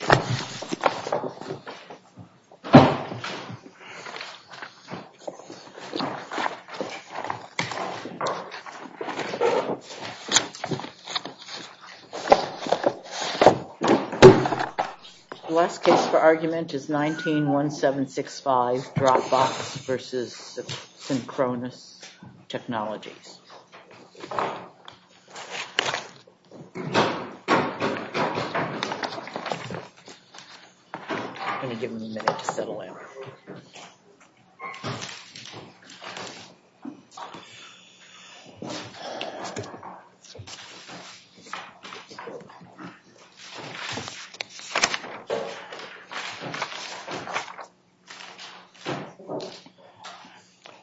The last case for argument is 19-1765, Dropbox v. Synchronoss Technologies. I'm going to give them a minute to settle in.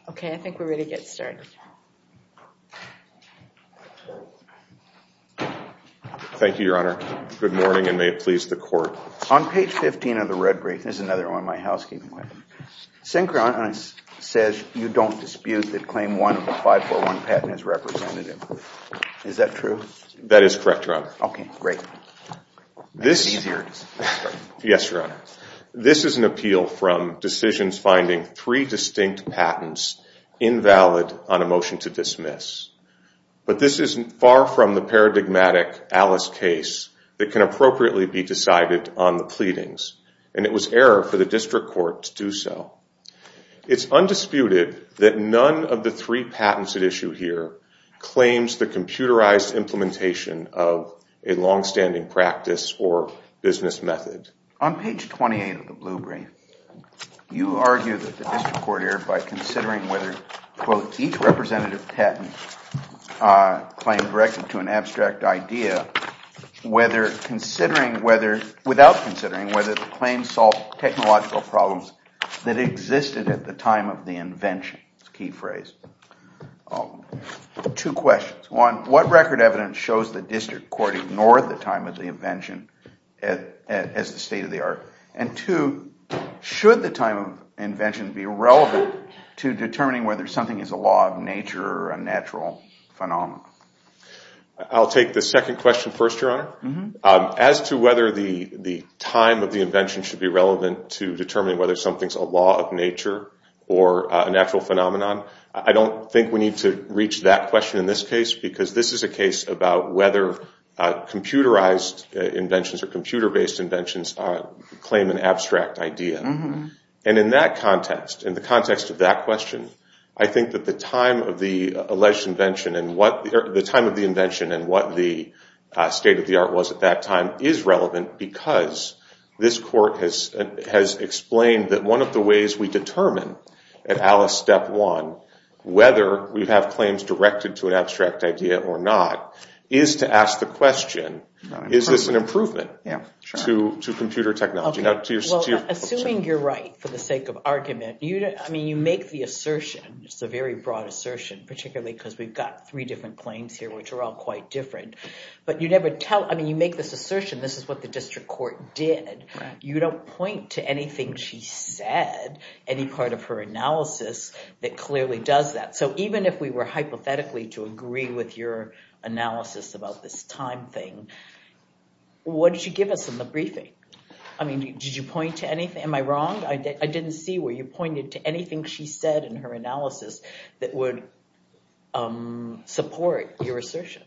Okay, I think we're ready to get started. Thank you, Your Honor. Good morning, and may it please the Court. On page 15 of the red brief, Synchronoss says you don't dispute that claim one of the 541 patent is representative. Is that true? That is correct, Your Honor. Okay, great. That's easier to say. Yes, Your Honor. This is an appeal from decisions finding three distinct patents invalid on a motion to dismiss. But this isn't far from the paradigmatic Alice case that can appropriately be decided on the pleadings, and it was error for the district court to do so. It's undisputed that none of the three patents at issue here claims the computerized implementation of a longstanding practice or business method. On page 28 of the blue brief, you argue that the district court erred by considering whether quote, each representative patent claim directed to an abstract idea without considering whether the claim solved technological problems that existed at the time of the invention. It's a key phrase. Two questions. One, what record evidence shows the district court ignored the time of the invention as a state of the art? And two, should the time of invention be relevant to determining whether something is a law of nature or a natural phenomenon? I'll take the second question first, Your Honor. As to whether the time of the invention should be relevant to determining whether something is a law of nature or a natural phenomenon, I don't think we need to reach that question in this case because this is a case about whether computerized inventions or computer-based inventions claim an abstract idea. And in that context, in the context of that question, I think that the time of the alleged invention and what the state of the art was at that time is relevant because this court has explained that one of the ways we determine at Alice Step 1 whether we have claims directed to an abstract idea or not is to ask the question, is this an improvement to computer technology? Assuming you're right for the sake of argument, I mean you make the assertion, it's a very broad assertion, particularly because we've got three different claims here which are all quite different, but you never tell, I mean you make this assertion, this is what the district court did, you don't point to anything she said, any part of her analysis that clearly does that. So even if we were hypothetically to agree with your analysis about this time thing, what did you give us in the briefing? I mean did you point to anything, am I wrong? I didn't see where you pointed to anything she said in her analysis that would support your assertion.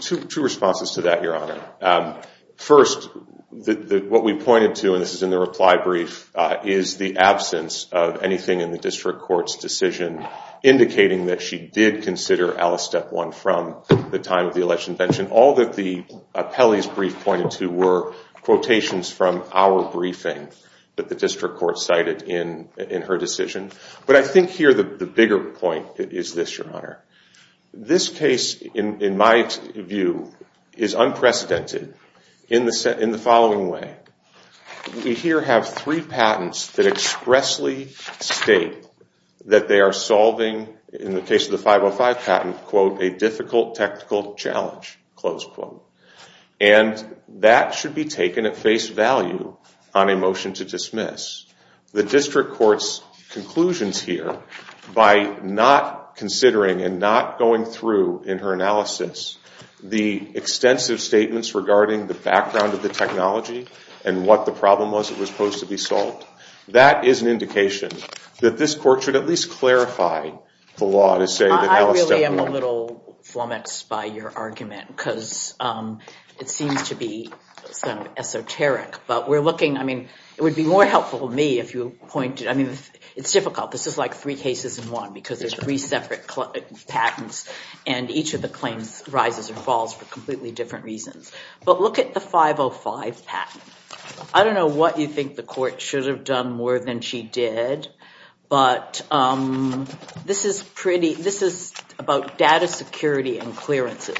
Two responses to that, Your Honor. First, what we pointed to, and this is in the reply brief, is the absence of anything in the district court's decision indicating that she did consider Alice Step 1 from the time of the election bench, and all that the appellee's brief pointed to were quotations from our briefing that the district court cited in her decision. But I think here the bigger point is this, Your Honor. This case, in my view, is unprecedented in the following way. We here have three patents that expressly state that they are solving, in the case of the 505 patent, quote, a difficult technical challenge, close quote. And that should be taken at face value on a motion to dismiss. The district court's conclusions here, by not considering and not going through in her and what the problem was that was supposed to be solved, that is an indication that this court should at least clarify the law to say that Alice Step 1- I really am a little flummoxed by your argument, because it seems to be sort of esoteric. But we're looking, I mean, it would be more helpful to me if you pointed, I mean, it's difficult. This is like three cases in one, because there's three separate patents, and each of the claims rises or falls for completely different reasons. But look at the 505 patent. I don't know what you think the court should have done more than she did, but this is pretty, this is about data security and clearances.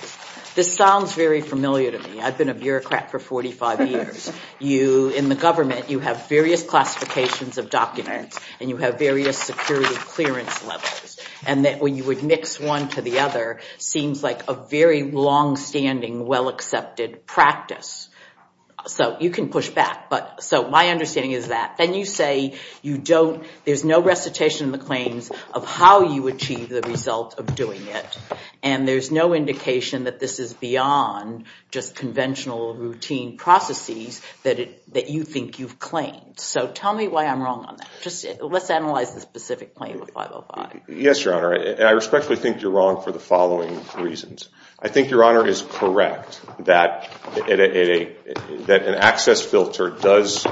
This sounds very familiar to me. I've been a bureaucrat for 45 years. In the government, you have various classifications of documents, and you have various security clearance levels. And that when you would mix one to the other seems like a very longstanding, well-accepted practice. So you can push back, but so my understanding is that when you say you don't, there's no recitation of the claims of how you achieve the result of doing it, and there's no indication that this is beyond just conventional routine processes that you think you've claimed. So tell me why I'm wrong on that. Let's analyze the specific claim of 505. Yes, Your Honor. I respectfully think you're wrong for the following reasons. I think Your Honor is correct that an access filter does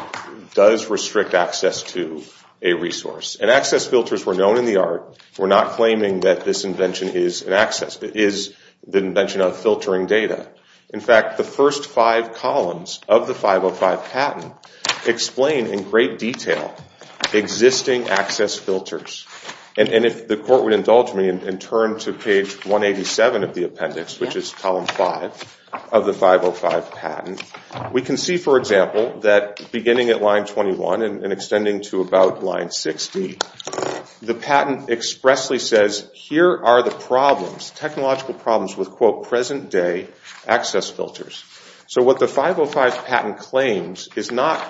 restrict access to a resource. And access filters were known in the art. We're not claiming that this invention is an access. It is the invention of filtering data. In fact, the first five columns of the 505 patent explain in great detail existing access filters. And if the court would indulge me and turn to page 187 of the appendix, which is column five of the 505 patent, we can see, for example, that beginning at line 21 and extending to about line 60, the patent expressly says, here are the problems, technological problems with, quote, present-day access filters. So what the 505 patent claims is not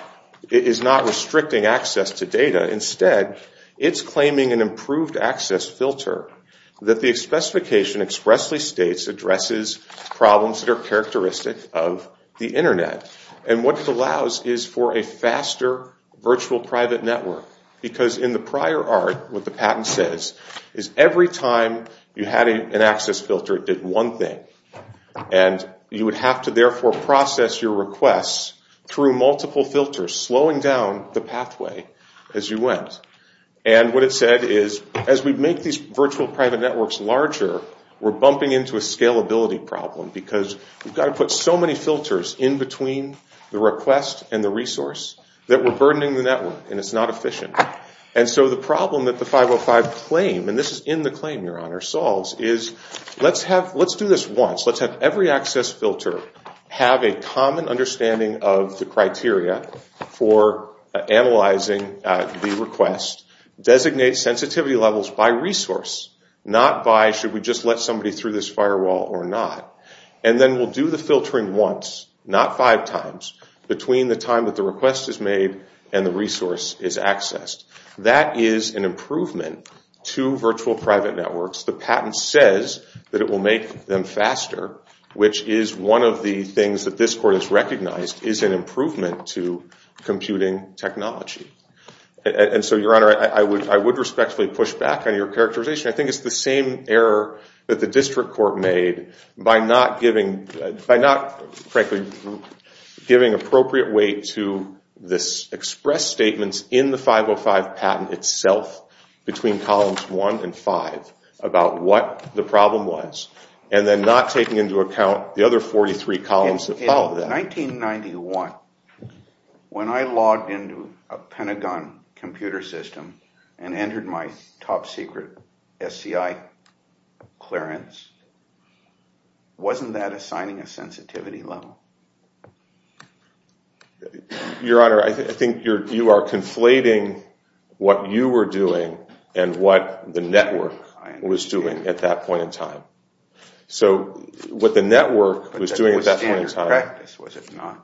restricting access to data. Instead, it's claiming an improved access filter that the specification expressly states addresses problems that are characteristic of the Internet. And what it allows is for a faster virtual private network. Because in the prior art, what the patent says is every time you had an access filter, it did one thing. And you would have to, therefore, process your requests through multiple filters, slowing down the pathway as you went. And what it said is, as we make these virtual private networks larger, we're bumping into a scalability problem, because we've got to put so many filters in between the request and the resource that we're burdening the network, and it's not efficient. And so the problem that the 505 claim, and this is in the claim, Your Honor, solves, is let's do this once. Let's have every access filter have a common understanding of the criteria for analyzing the request, designate sensitivity levels by resource, not by should we just let somebody through this firewall or not. And then we'll do the filtering once, not five times, between the time that the request is made and the resource is accessed. That is an improvement to virtual private networks. The patent says that it will make them faster, which is one of the things that this court has recognized is an improvement to computing technology. And so, Your Honor, I would respectfully push back on your characterization. I think it's the same error that the district court made by not, frankly, giving appropriate weight to the express statements in the 505 patent itself between columns one and five about what the problem was, and then not taking into account the other 43 columns that follow that. In 1991, when I logged into a Pentagon computer system and entered my top secret SCI clearance, wasn't that assigning a sensitivity level? Your Honor, I think you are conflating what you were doing and what the network was doing at that point in time. So what the network was doing at that point in time,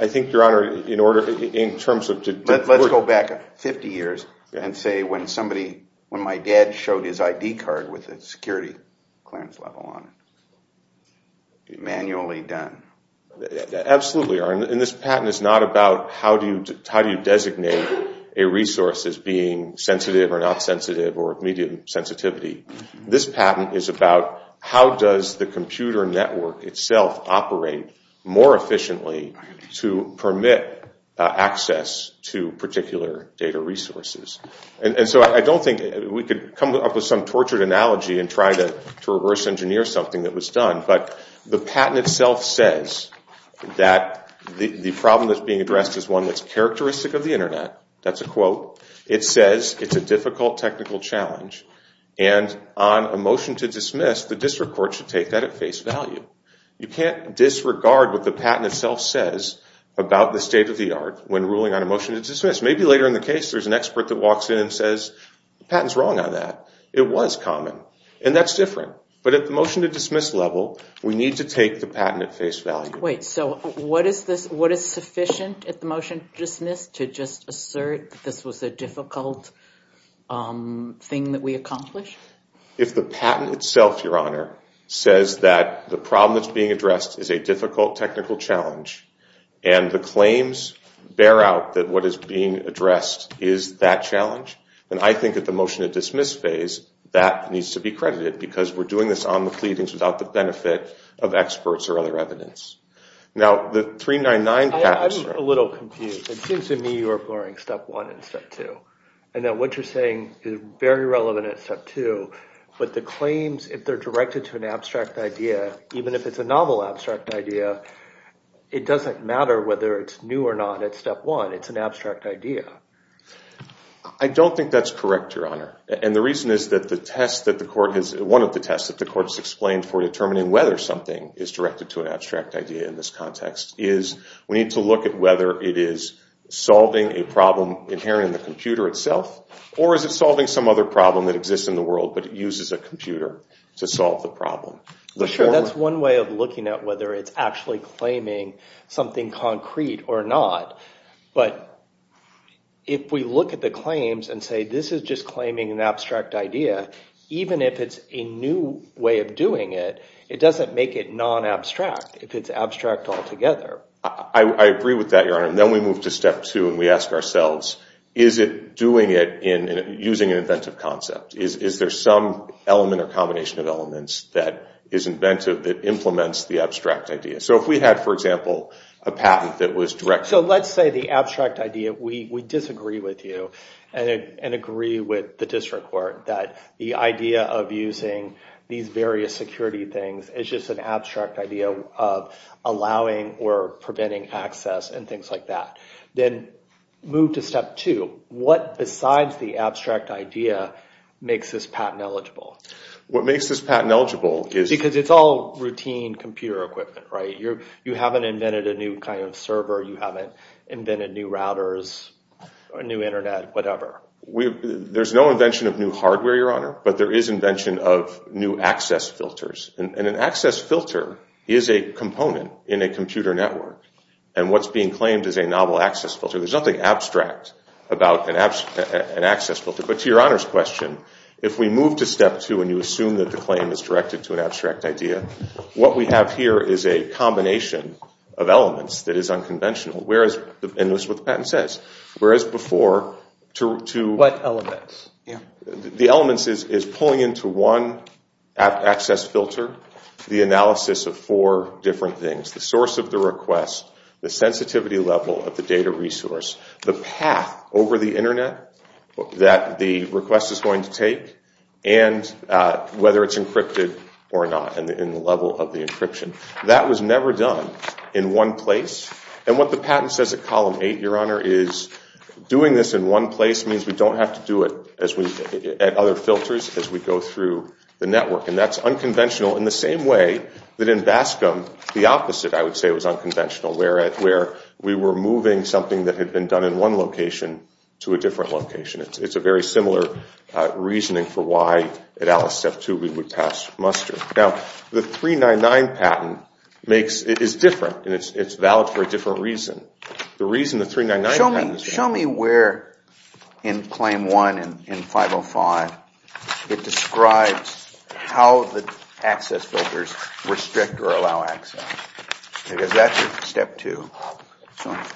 I think, Your Honor, in terms of Let's go back 50 years and say when my dad showed his ID card with a security clearance level on it. Manually done. Absolutely, Your Honor. And this patent is not about how do you designate a resource as being sensitive or not sensitive or of medium sensitivity. This patent is about how does the computer network itself operate more efficiently to permit access to particular data resources. And so I don't think we could come up with some tortured analogy and try to reverse engineer something that was done, but the patent itself says that the problem that's being addressed is one that's characteristic of the Internet. That's a quote. It says it's a difficult technical challenge, and on a motion to dismiss, the district court should take that at face value. You can't disregard what the patent itself says about the state-of-the-art when ruling on a motion to dismiss. Maybe later in the case there's an expert that walks in and says the patent's wrong on that. It was common, and that's different. But at the motion to dismiss level, we need to take the patent at face value. Wait, so what is sufficient at the motion to dismiss to just assert that this was a difficult thing that we accomplished? If the patent itself, Your Honor, says that the problem that's being addressed is a difficult technical challenge, and the claims bear out that what is being addressed is that challenge, then I think at the motion to dismiss phase, that needs to be credited because we're doing this on the pleadings without the benefit of experts or other evidence. Now, the 399 patent... I'm a little confused. It seems to me you're blurring step one and step two, and that what you're saying is very relevant at step two. But the claims, if they're directed to an abstract idea, even if it's a novel abstract idea, it doesn't matter whether it's new or not at step one. It's an abstract idea. I don't think that's correct, Your Honor. And the reason is that the test that the court has... One of the tests that the court has explained for determining whether something is directed to an abstract idea in this context is we need to look at whether it is solving a problem inherent in the computer itself, or is it solving some other problem that exists in the world, but it uses a computer to solve the problem. Sure. That's one way of looking at whether it's actually claiming something concrete or not. But if we look at the claims and say this is just claiming an abstract idea, even if it's a new way of doing it, it doesn't make it non-abstract if it's abstract altogether. I agree with that, Your Honor. And then we move to step two and we ask ourselves, is it doing it using an inventive concept? Is there some element or combination of elements that is inventive that implements the abstract idea? So if we had, for example, a patent that was directed... So let's say the abstract idea, we disagree with you and agree with the district court that the idea of using these various security things is just an abstract idea of allowing or preventing access and things like that. Then move to step two. What besides the abstract idea makes this patent eligible? What makes this patent eligible is... Because it's all routine computer equipment, right? You haven't invented a new kind of server. You haven't invented new routers or a new internet, whatever. There's no invention of new hardware, Your Honor, but there is invention of new access filters. And an access filter is a component in a computer network. And what's being claimed is a novel access filter. There's nothing abstract about an access filter. But to Your Honor's question, if we move to step two and you assume that the claim is directed to an abstract idea, what we have here is a combination of elements that is unconventional. And that's what the patent says. Whereas before, to... What elements? The elements is pulling into one access filter the analysis of four different things, the source of the request, the sensitivity level of the data resource, the path over the internet that the request is going to take, and whether it's encrypted or not in the level of the encryption. That was never done in one place. And what the patent says at column eight, Your Honor, is doing this in one place means we don't have to do it at other filters as we go through the network. And that's unconventional in the same way that in BASCM the opposite, I would say, was unconventional, where we were moving something that had been done in one location to a different location. It's a very similar reasoning for why at Alice Step 2 we would pass muster. Now, the 399 patent is different, and it's valid for a different reason. The reason the 399 patent is valid... Show me where in Claim 1 in 505 it describes how the access filters restrict or allow access. Because that's Step 2.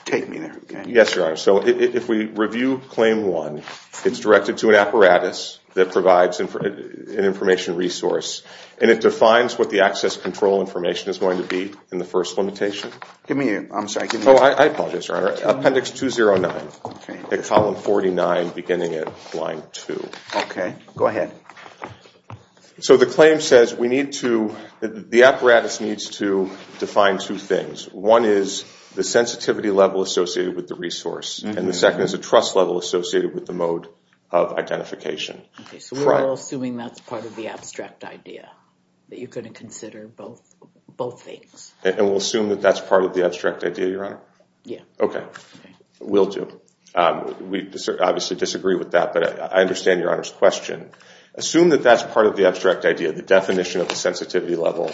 Take me there again. Yes, Your Honor. So if we review Claim 1, it's directed to an apparatus that provides an information resource, and it defines what the access control information is going to be in the first limitation. Give me your... I'm sorry. Oh, I apologize, Your Honor. Appendix 209 at column 49 beginning at line 2. Okay, go ahead. So the claim says we need to... the apparatus needs to define two things. One is the sensitivity level associated with the resource, and the second is a trust level associated with the mode of identification. Okay, so we're all assuming that's part of the abstract idea, that you're going to consider both things. And we'll assume that that's part of the abstract idea, Your Honor? Yeah. Okay, we'll do. We obviously disagree with that, but I understand Your Honor's question. Assume that that's part of the abstract idea, the definition of the sensitivity level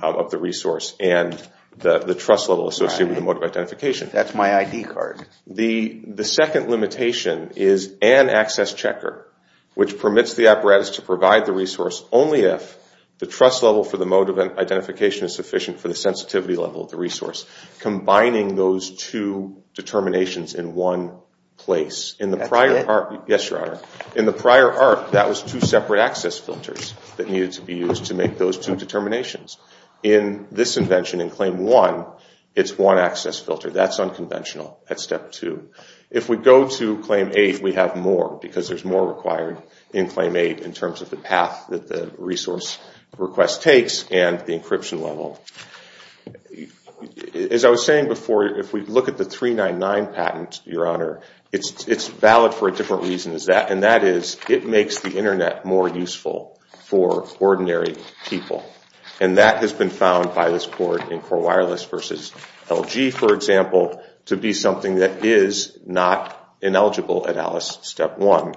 of the resource and the trust level associated with the mode of identification. That's my ID card. The second limitation is an access checker, which permits the apparatus to provide the resource only if the trust level for the mode of identification is sufficient for the sensitivity level of the resource, combining those two determinations in one place. That's it? Yes, Your Honor. In the prior arc, that was two separate access filters that needed to be used to make those two determinations. In this invention, in Claim 1, it's one access filter. That's unconventional at Step 2. If we go to Claim 8, we have more because there's more required in Claim 8 in terms of the path that the resource request takes and the encryption level. As I was saying before, if we look at the 399 patent, Your Honor, it's valid for a different reason, and that is it makes the Internet more useful for ordinary people. And that has been found by this court in Core Wireless v. LG, for example, to be something that is not ineligible at Alice Step 1.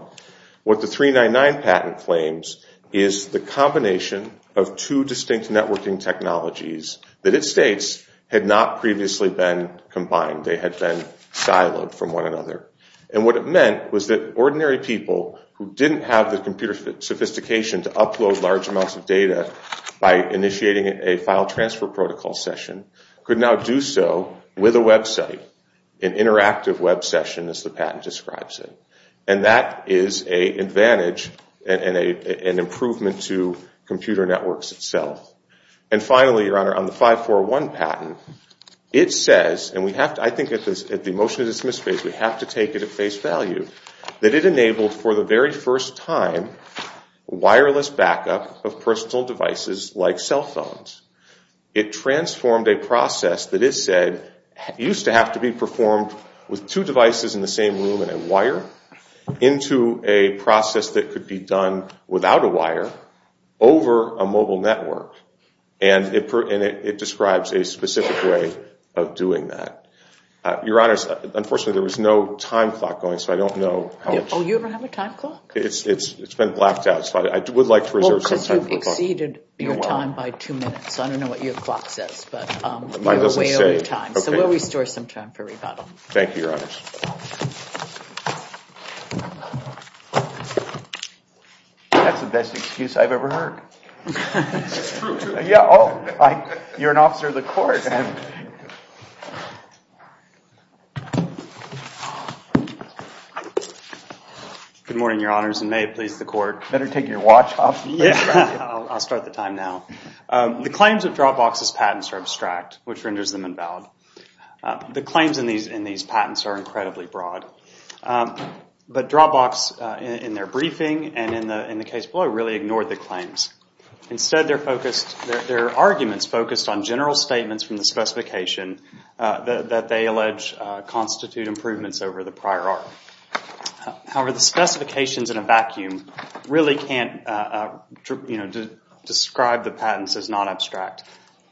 What the 399 patent claims is the combination of two distinct networking technologies that it states had not previously been combined. They had been siloed from one another. And what it meant was that ordinary people who didn't have the computer sophistication to upload large amounts of data by initiating a file transfer protocol session could now do so with a website, an interactive web session as the patent describes it. And that is an advantage and an improvement to computer networks itself. And finally, Your Honor, on the 541 patent, it says, and I think at the motion to dismiss phase we have to take it at face value, that it enabled for the very first time wireless backup of personal devices like cell phones. It transformed a process that it said used to have to be performed with two devices in the same room and a wire into a process that could be done without a wire over a mobile network. And it describes a specific way of doing that. Your Honor, unfortunately, there was no time clock going, so I don't know how much. Oh, you don't have a time clock? It's been blacked out, so I would like to reserve some time. Well, because you've exceeded your time by two minutes. I don't know what your clock says, but you're way over time. So we'll restore some time for rebuttal. Thank you, Your Honors. That's the best excuse I've ever heard. It's true, too. Oh, you're an officer of the court. Good morning, Your Honors, and may it please the court. Better take your watch off. I'll start the time now. The claims of Dropbox's patents are abstract, which renders them invalid. The claims in these patents are incredibly broad. But Dropbox, in their briefing and in the case below, really ignored the claims. Instead, their arguments focused on general statements from the specification that they allege constitute improvements over the prior art. However, the specifications in a vacuum really can't describe the patents as not abstract.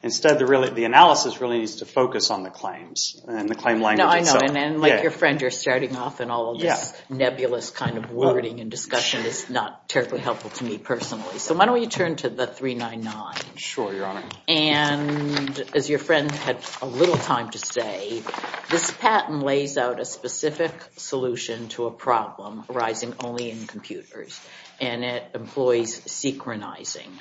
Instead, the analysis really needs to focus on the claims and the claim language itself. I know, and like your friend, you're starting off, and all of this nebulous kind of wording and discussion is not terribly helpful to me personally. So why don't we turn to the 399? Sure, Your Honor. And as your friend had a little time to say, this patent lays out a specific solution to a problem arising only in computers, and it employs synchronizing.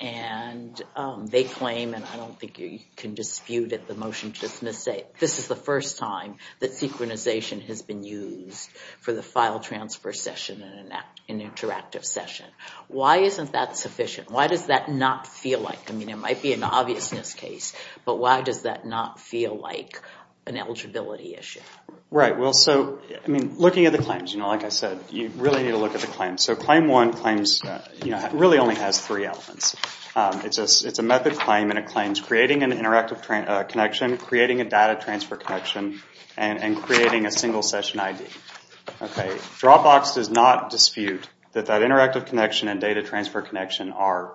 And they claim, and I don't think you can dispute it, the motion just misstates. This is the first time that synchronization has been used for the file transfer session in an interactive session. Why isn't that sufficient? Why does that not feel like it? I mean, it might be an obviousness case, but why does that not feel like an eligibility issue? Right, well, so, I mean, looking at the claims, you know, like I said, you really need to look at the claims. So Claim 1 claims, you know, really only has three elements. It's a method claim, and it claims creating an interactive connection, creating a data transfer connection, and creating a single session ID. Dropbox does not dispute that that interactive connection and data transfer connection are,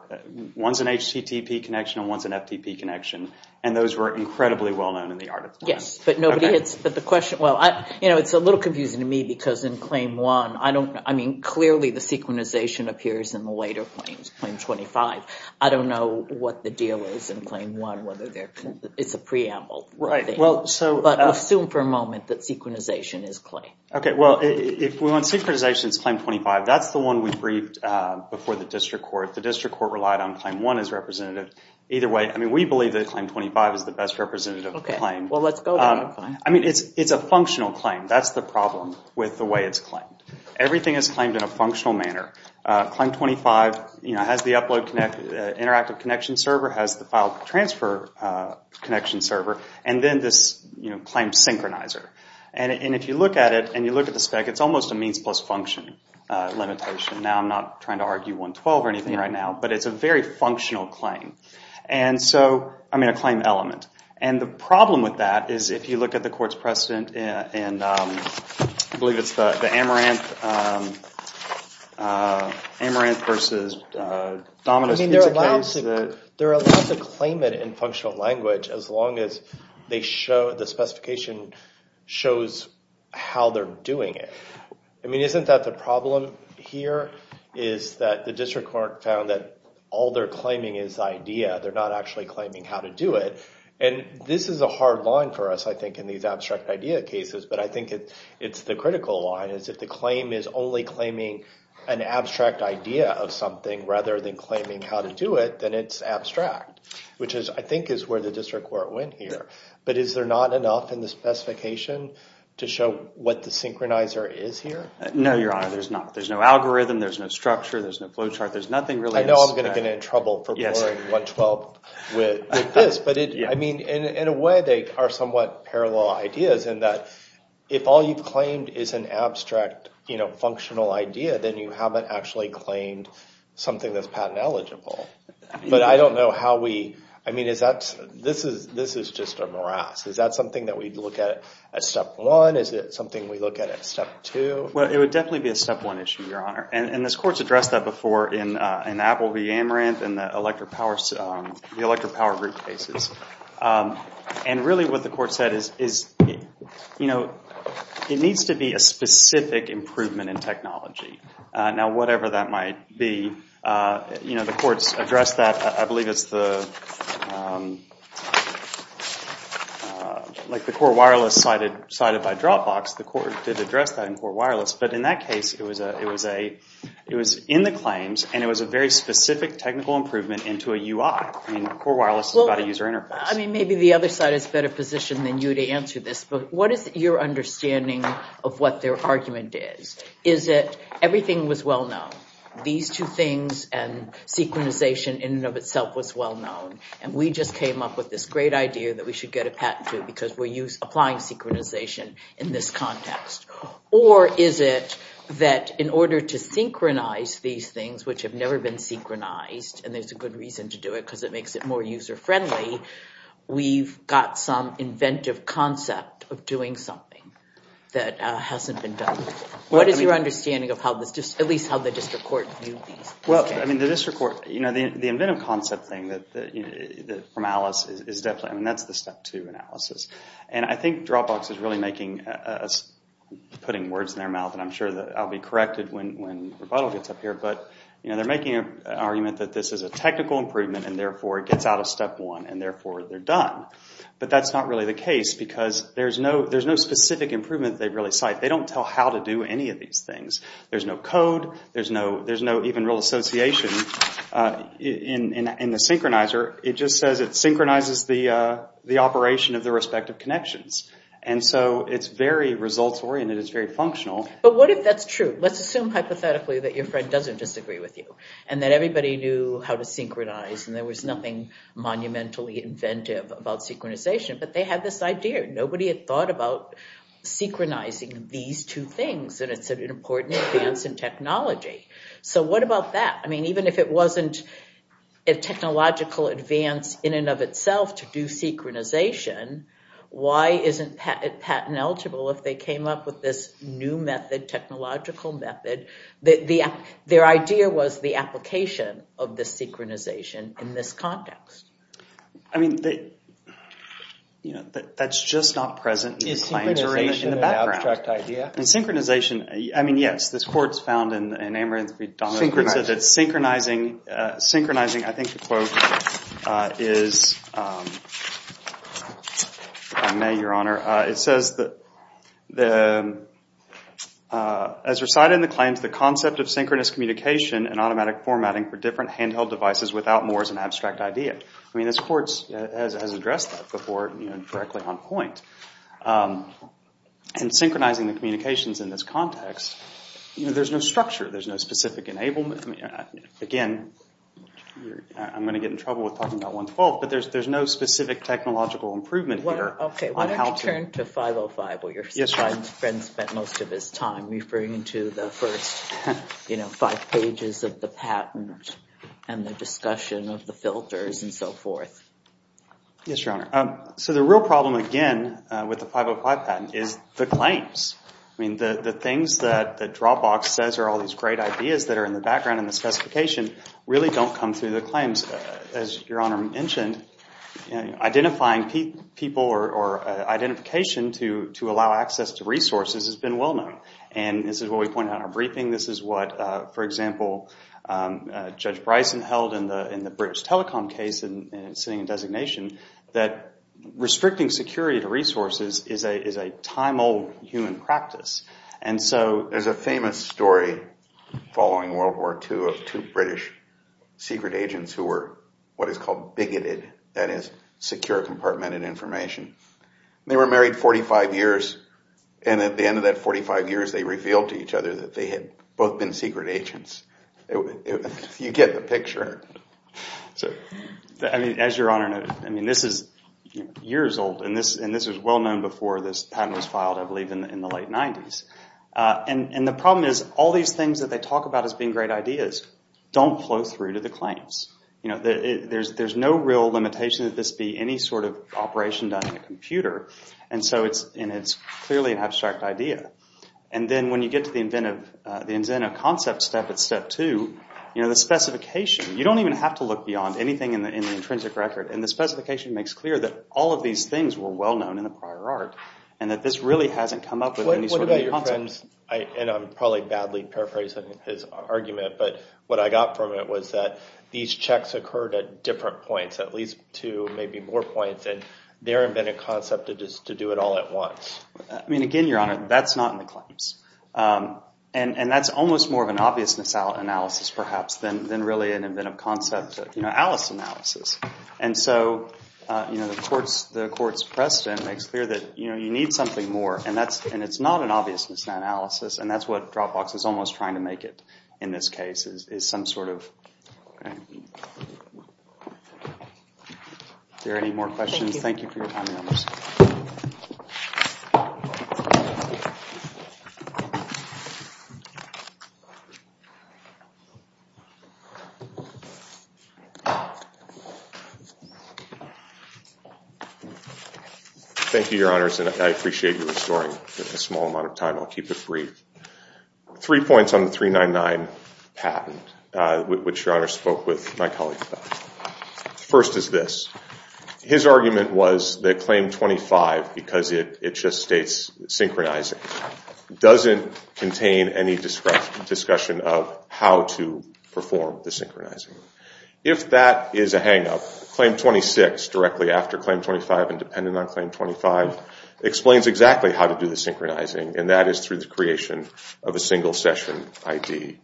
one's an HTTP connection and one's an FTP connection, and those were incredibly well-known in the art of the patent. Yes, but nobody hits, but the question, well, you know, it's a little confusing to me because in Claim 1, I don't, I mean, clearly the synchronization appears in the later claims, Claim 25. I don't know what the deal is in Claim 1, whether there, it's a preamble. Right, well, so. But assume for a moment that synchronization is a claim. Okay, well, if we want synchronization, it's Claim 25. That's the one we briefed before the district court. The district court relied on Claim 1 as representative. Either way, I mean, we believe that Claim 25 is the best representative claim. Okay, well, let's go there. I mean, it's a functional claim. That's the problem with the way it's claimed. Everything is claimed in a functional manner. Claim 25, you know, has the upload connect, interactive connection server, has the file transfer connection server, and then this, you know, claim synchronizer. And if you look at it and you look at the spec, it's almost a means plus function limitation. Now I'm not trying to argue 112 or anything right now, but it's a very functional claim. And so, I mean, a claim element. And the problem with that is if you look at the court's precedent, and I believe it's the Amaranth versus Dominus. I mean, they're allowed to claim it in functional language as long as they show, the specification shows how they're doing it. I mean, isn't that the problem here is that the district court found that all they're claiming is idea. They're not actually claiming how to do it. And this is a hard line for us, I think, in these abstract idea cases, but I think it's the critical line is if the claim is only claiming an abstract idea of something rather than claiming how to do it, then it's abstract, which I think is where the district court went here. But is there not enough in the specification to show what the synchronizer is here? No, Your Honor, there's not. There's no algorithm. There's no structure. There's no flowchart. There's nothing really. I know I'm going to get in trouble for blurring 112 with this. But, I mean, in a way, they are somewhat parallel ideas in that if all you've claimed is an abstract, you know, functional idea, then you haven't actually claimed something that's patent eligible. But I don't know how we – I mean, is that – this is just a morass. Is that something that we look at as step one? Is it something we look at as step two? Well, it would definitely be a step one issue, Your Honor. And this court's addressed that before in Apple v. Amaranth and the electric power group cases. And really what the court said is, you know, it needs to be a specific improvement in technology. Now, whatever that might be, you know, the court's addressed that. I believe it's the – like the core wireless cited by Dropbox, the court did address that in core wireless. But in that case, it was in the claims, and it was a very specific technical improvement into a UI. I mean, core wireless is about a user interface. Well, I mean, maybe the other side is better positioned than you to answer this. But what is your understanding of what their argument is? Is it everything was well known? These two things and synchronization in and of itself was well known. And we just came up with this great idea that we should get a patent to because we're applying synchronization in this context. Or is it that in order to synchronize these things, which have never been synchronized, and there's a good reason to do it because it makes it more user-friendly, we've got some inventive concept of doing something that hasn't been done? What is your understanding of how this – at least how the district court viewed these? Well, I mean, the district court – you know, the inventive concept thing from Alice is definitely – I mean, that's the step two analysis. And I think Dropbox is really making – putting words in their mouth, and I'm sure that I'll be corrected when rebuttal gets up here. But, you know, they're making an argument that this is a technical improvement, and therefore it gets out of step one, and therefore they're done. But that's not really the case because there's no specific improvement they really cite. They don't tell how to do any of these things. There's no code. There's no even real association in the synchronizer. It just says it synchronizes the operation of the respective connections. And so it's very results-oriented. It's very functional. But what if that's true? Let's assume hypothetically that your friend doesn't disagree with you and that everybody knew how to synchronize and there was nothing monumentally inventive about synchronization, but they had this idea. Nobody had thought about synchronizing these two things, and it's an important advance in technology. So what about that? I mean, even if it wasn't a technological advance in and of itself to do synchronization, why isn't it patent-eligible if they came up with this new method, technological method? Their idea was the application of the synchronization in this context. I mean, that's just not present in the claims or in the background. Is synchronization an abstract idea? In synchronization, I mean, yes. This court's found in Amory & Threedono that synchronizing, I think the quote is by May, Your Honor. It says, as recited in the claims, the concept of synchronous communication and automatic formatting for different handheld devices without more is an abstract idea. I mean, this court has addressed that before directly on point. In synchronizing the communications in this context, there's no structure. There's no specific enablement. Again, I'm going to get in trouble with talking about 112, but there's no specific technological improvement here. Okay. Why don't you turn to 505 where your friend spent most of his time referring to the first five pages of the patent and the discussion of the filters and so forth. Yes, Your Honor. So the real problem, again, with the 505 patent is the claims. I mean, the things that Dropbox says are all these great ideas that are in the background in the specification really don't come through the claims. As Your Honor mentioned, identifying people or identification to allow access to resources has been well known. This is what we pointed out in our briefing. This is what, for example, Judge Bryson held in the British Telecom case sitting in designation, that restricting security to resources is a time-old human practice. There's a famous story following World War II of two British secret agents who were what is called bigoted, that is, secure compartmented information. They were married 45 years, and at the end of that 45 years they revealed to each other that they had both been secret agents. You get the picture. As Your Honor noted, this is years old, and this was well known before this patent was filed, I believe, in the late 90s. And the problem is all these things that they talk about as being great ideas don't flow through to the claims. There's no real limitation that this be any sort of operation done on a computer, and so it's clearly an abstract idea. And then when you get to the Inzeno concept step, it's step two, the specification. You don't even have to look beyond anything in the intrinsic record, and the specification makes clear that all of these things were well known in the prior art, and that this really hasn't come up with any sort of concept. And I'm probably badly paraphrasing his argument, but what I got from it was that these checks occurred at different points, at least two, maybe more points, and their inventive concept is to do it all at once. I mean, again, Your Honor, that's not in the claims. And that's almost more of an obvious misanalysis perhaps than really an inventive concept, you know, Alice analysis. And so the court's precedent makes clear that you need something more, and it's not an obvious misanalysis, and that's what Dropbox is almost trying to make it in this case is some sort of... Are there any more questions? Thank you for your time, Your Honor. Thank you, Your Honors, and I appreciate you restoring a small amount of time. I'll keep it brief. Three points on the 399 patent, which Your Honor spoke with my colleagues about. First is this. His argument was that Claim 25, because it just states synchronizing, doesn't contain any discussion of how to perform the synchronizing. If that is a hang-up, Claim 26, directly after Claim 25 and dependent on Claim 25, explains exactly how to do the synchronizing, and that is through the creation of a single session ID.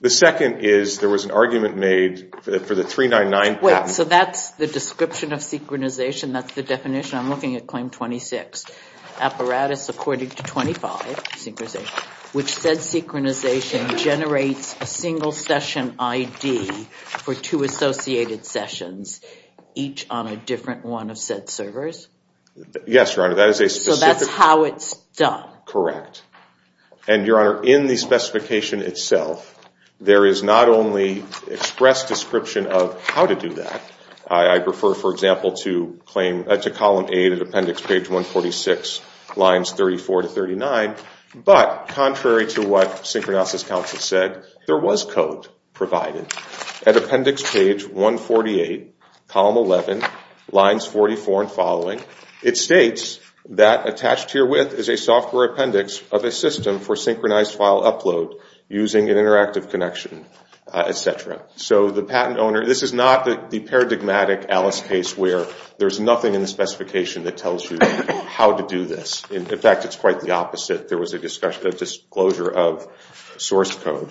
The second is there was an argument made for the 399 patent... Wait, so that's the description of synchronization? That's the definition? I'm looking at Claim 26. Apparatus according to 25, synchronization, which said synchronization generates a single session ID for two associated sessions, each on a different one of said servers? Yes, Your Honor. So that's how it's done? Correct. And, Your Honor, in the specification itself, there is not only express description of how to do that. I prefer, for example, to Column 8, Appendix 146, Lines 34-39, but contrary to what Synchronosis Council said, there was code provided. At Appendix 148, Column 11, Lines 44 and following, it states that attached herewith is a software appendix of a system for synchronized file upload using an interactive connection, etc. So the patent owner... This is not the paradigmatic Alice case where there's nothing in the specification that tells you how to do this. In fact, it's quite the opposite. There was a disclosure of source code.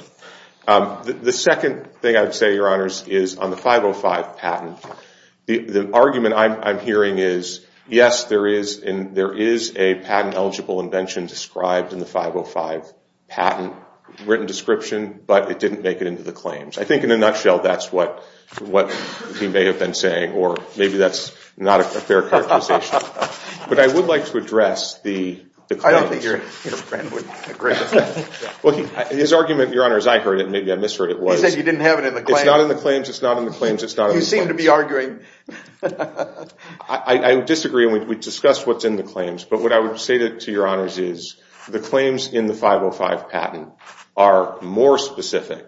The second thing I would say, Your Honors, is on the 505 patent, the argument I'm hearing is, yes, there is a patent-eligible invention described in the 505 patent written description, but it didn't make it into the claims. I think, in a nutshell, that's what he may have been saying, or maybe that's not a fair characterization. But I would like to address the claims. I don't think your friend would agree with that. Well, his argument, Your Honor, as I heard it, and maybe I misheard it was... You said you didn't have it in the claims. It's not in the claims. It's not in the claims. You seem to be arguing. I disagree, and we discussed what's in the claims. But what I would say to Your Honors is the claims in the 505 patent are more specific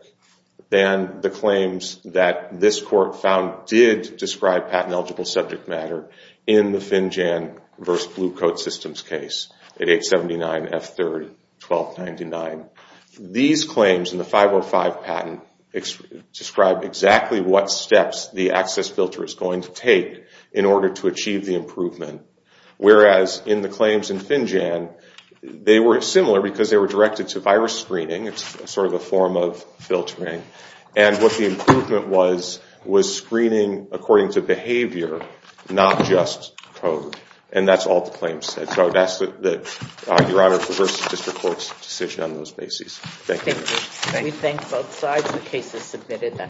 than the claims that this court found did describe patent-eligible subject matter in the Finjan v. Blue Coat Systems case at 879 F. 3rd 1299. These claims in the 505 patent describe exactly what steps the access filter is going to take in order to achieve the improvement, whereas in the claims in Finjan, they were similar because they were directed to virus screening. It's sort of a form of filtering. And what the improvement was was screening according to behavior, not just code. And that's all the claims said. So that's, Your Honor, the first district court's decision on those bases. Thank you. We thank both sides. The case is submitted.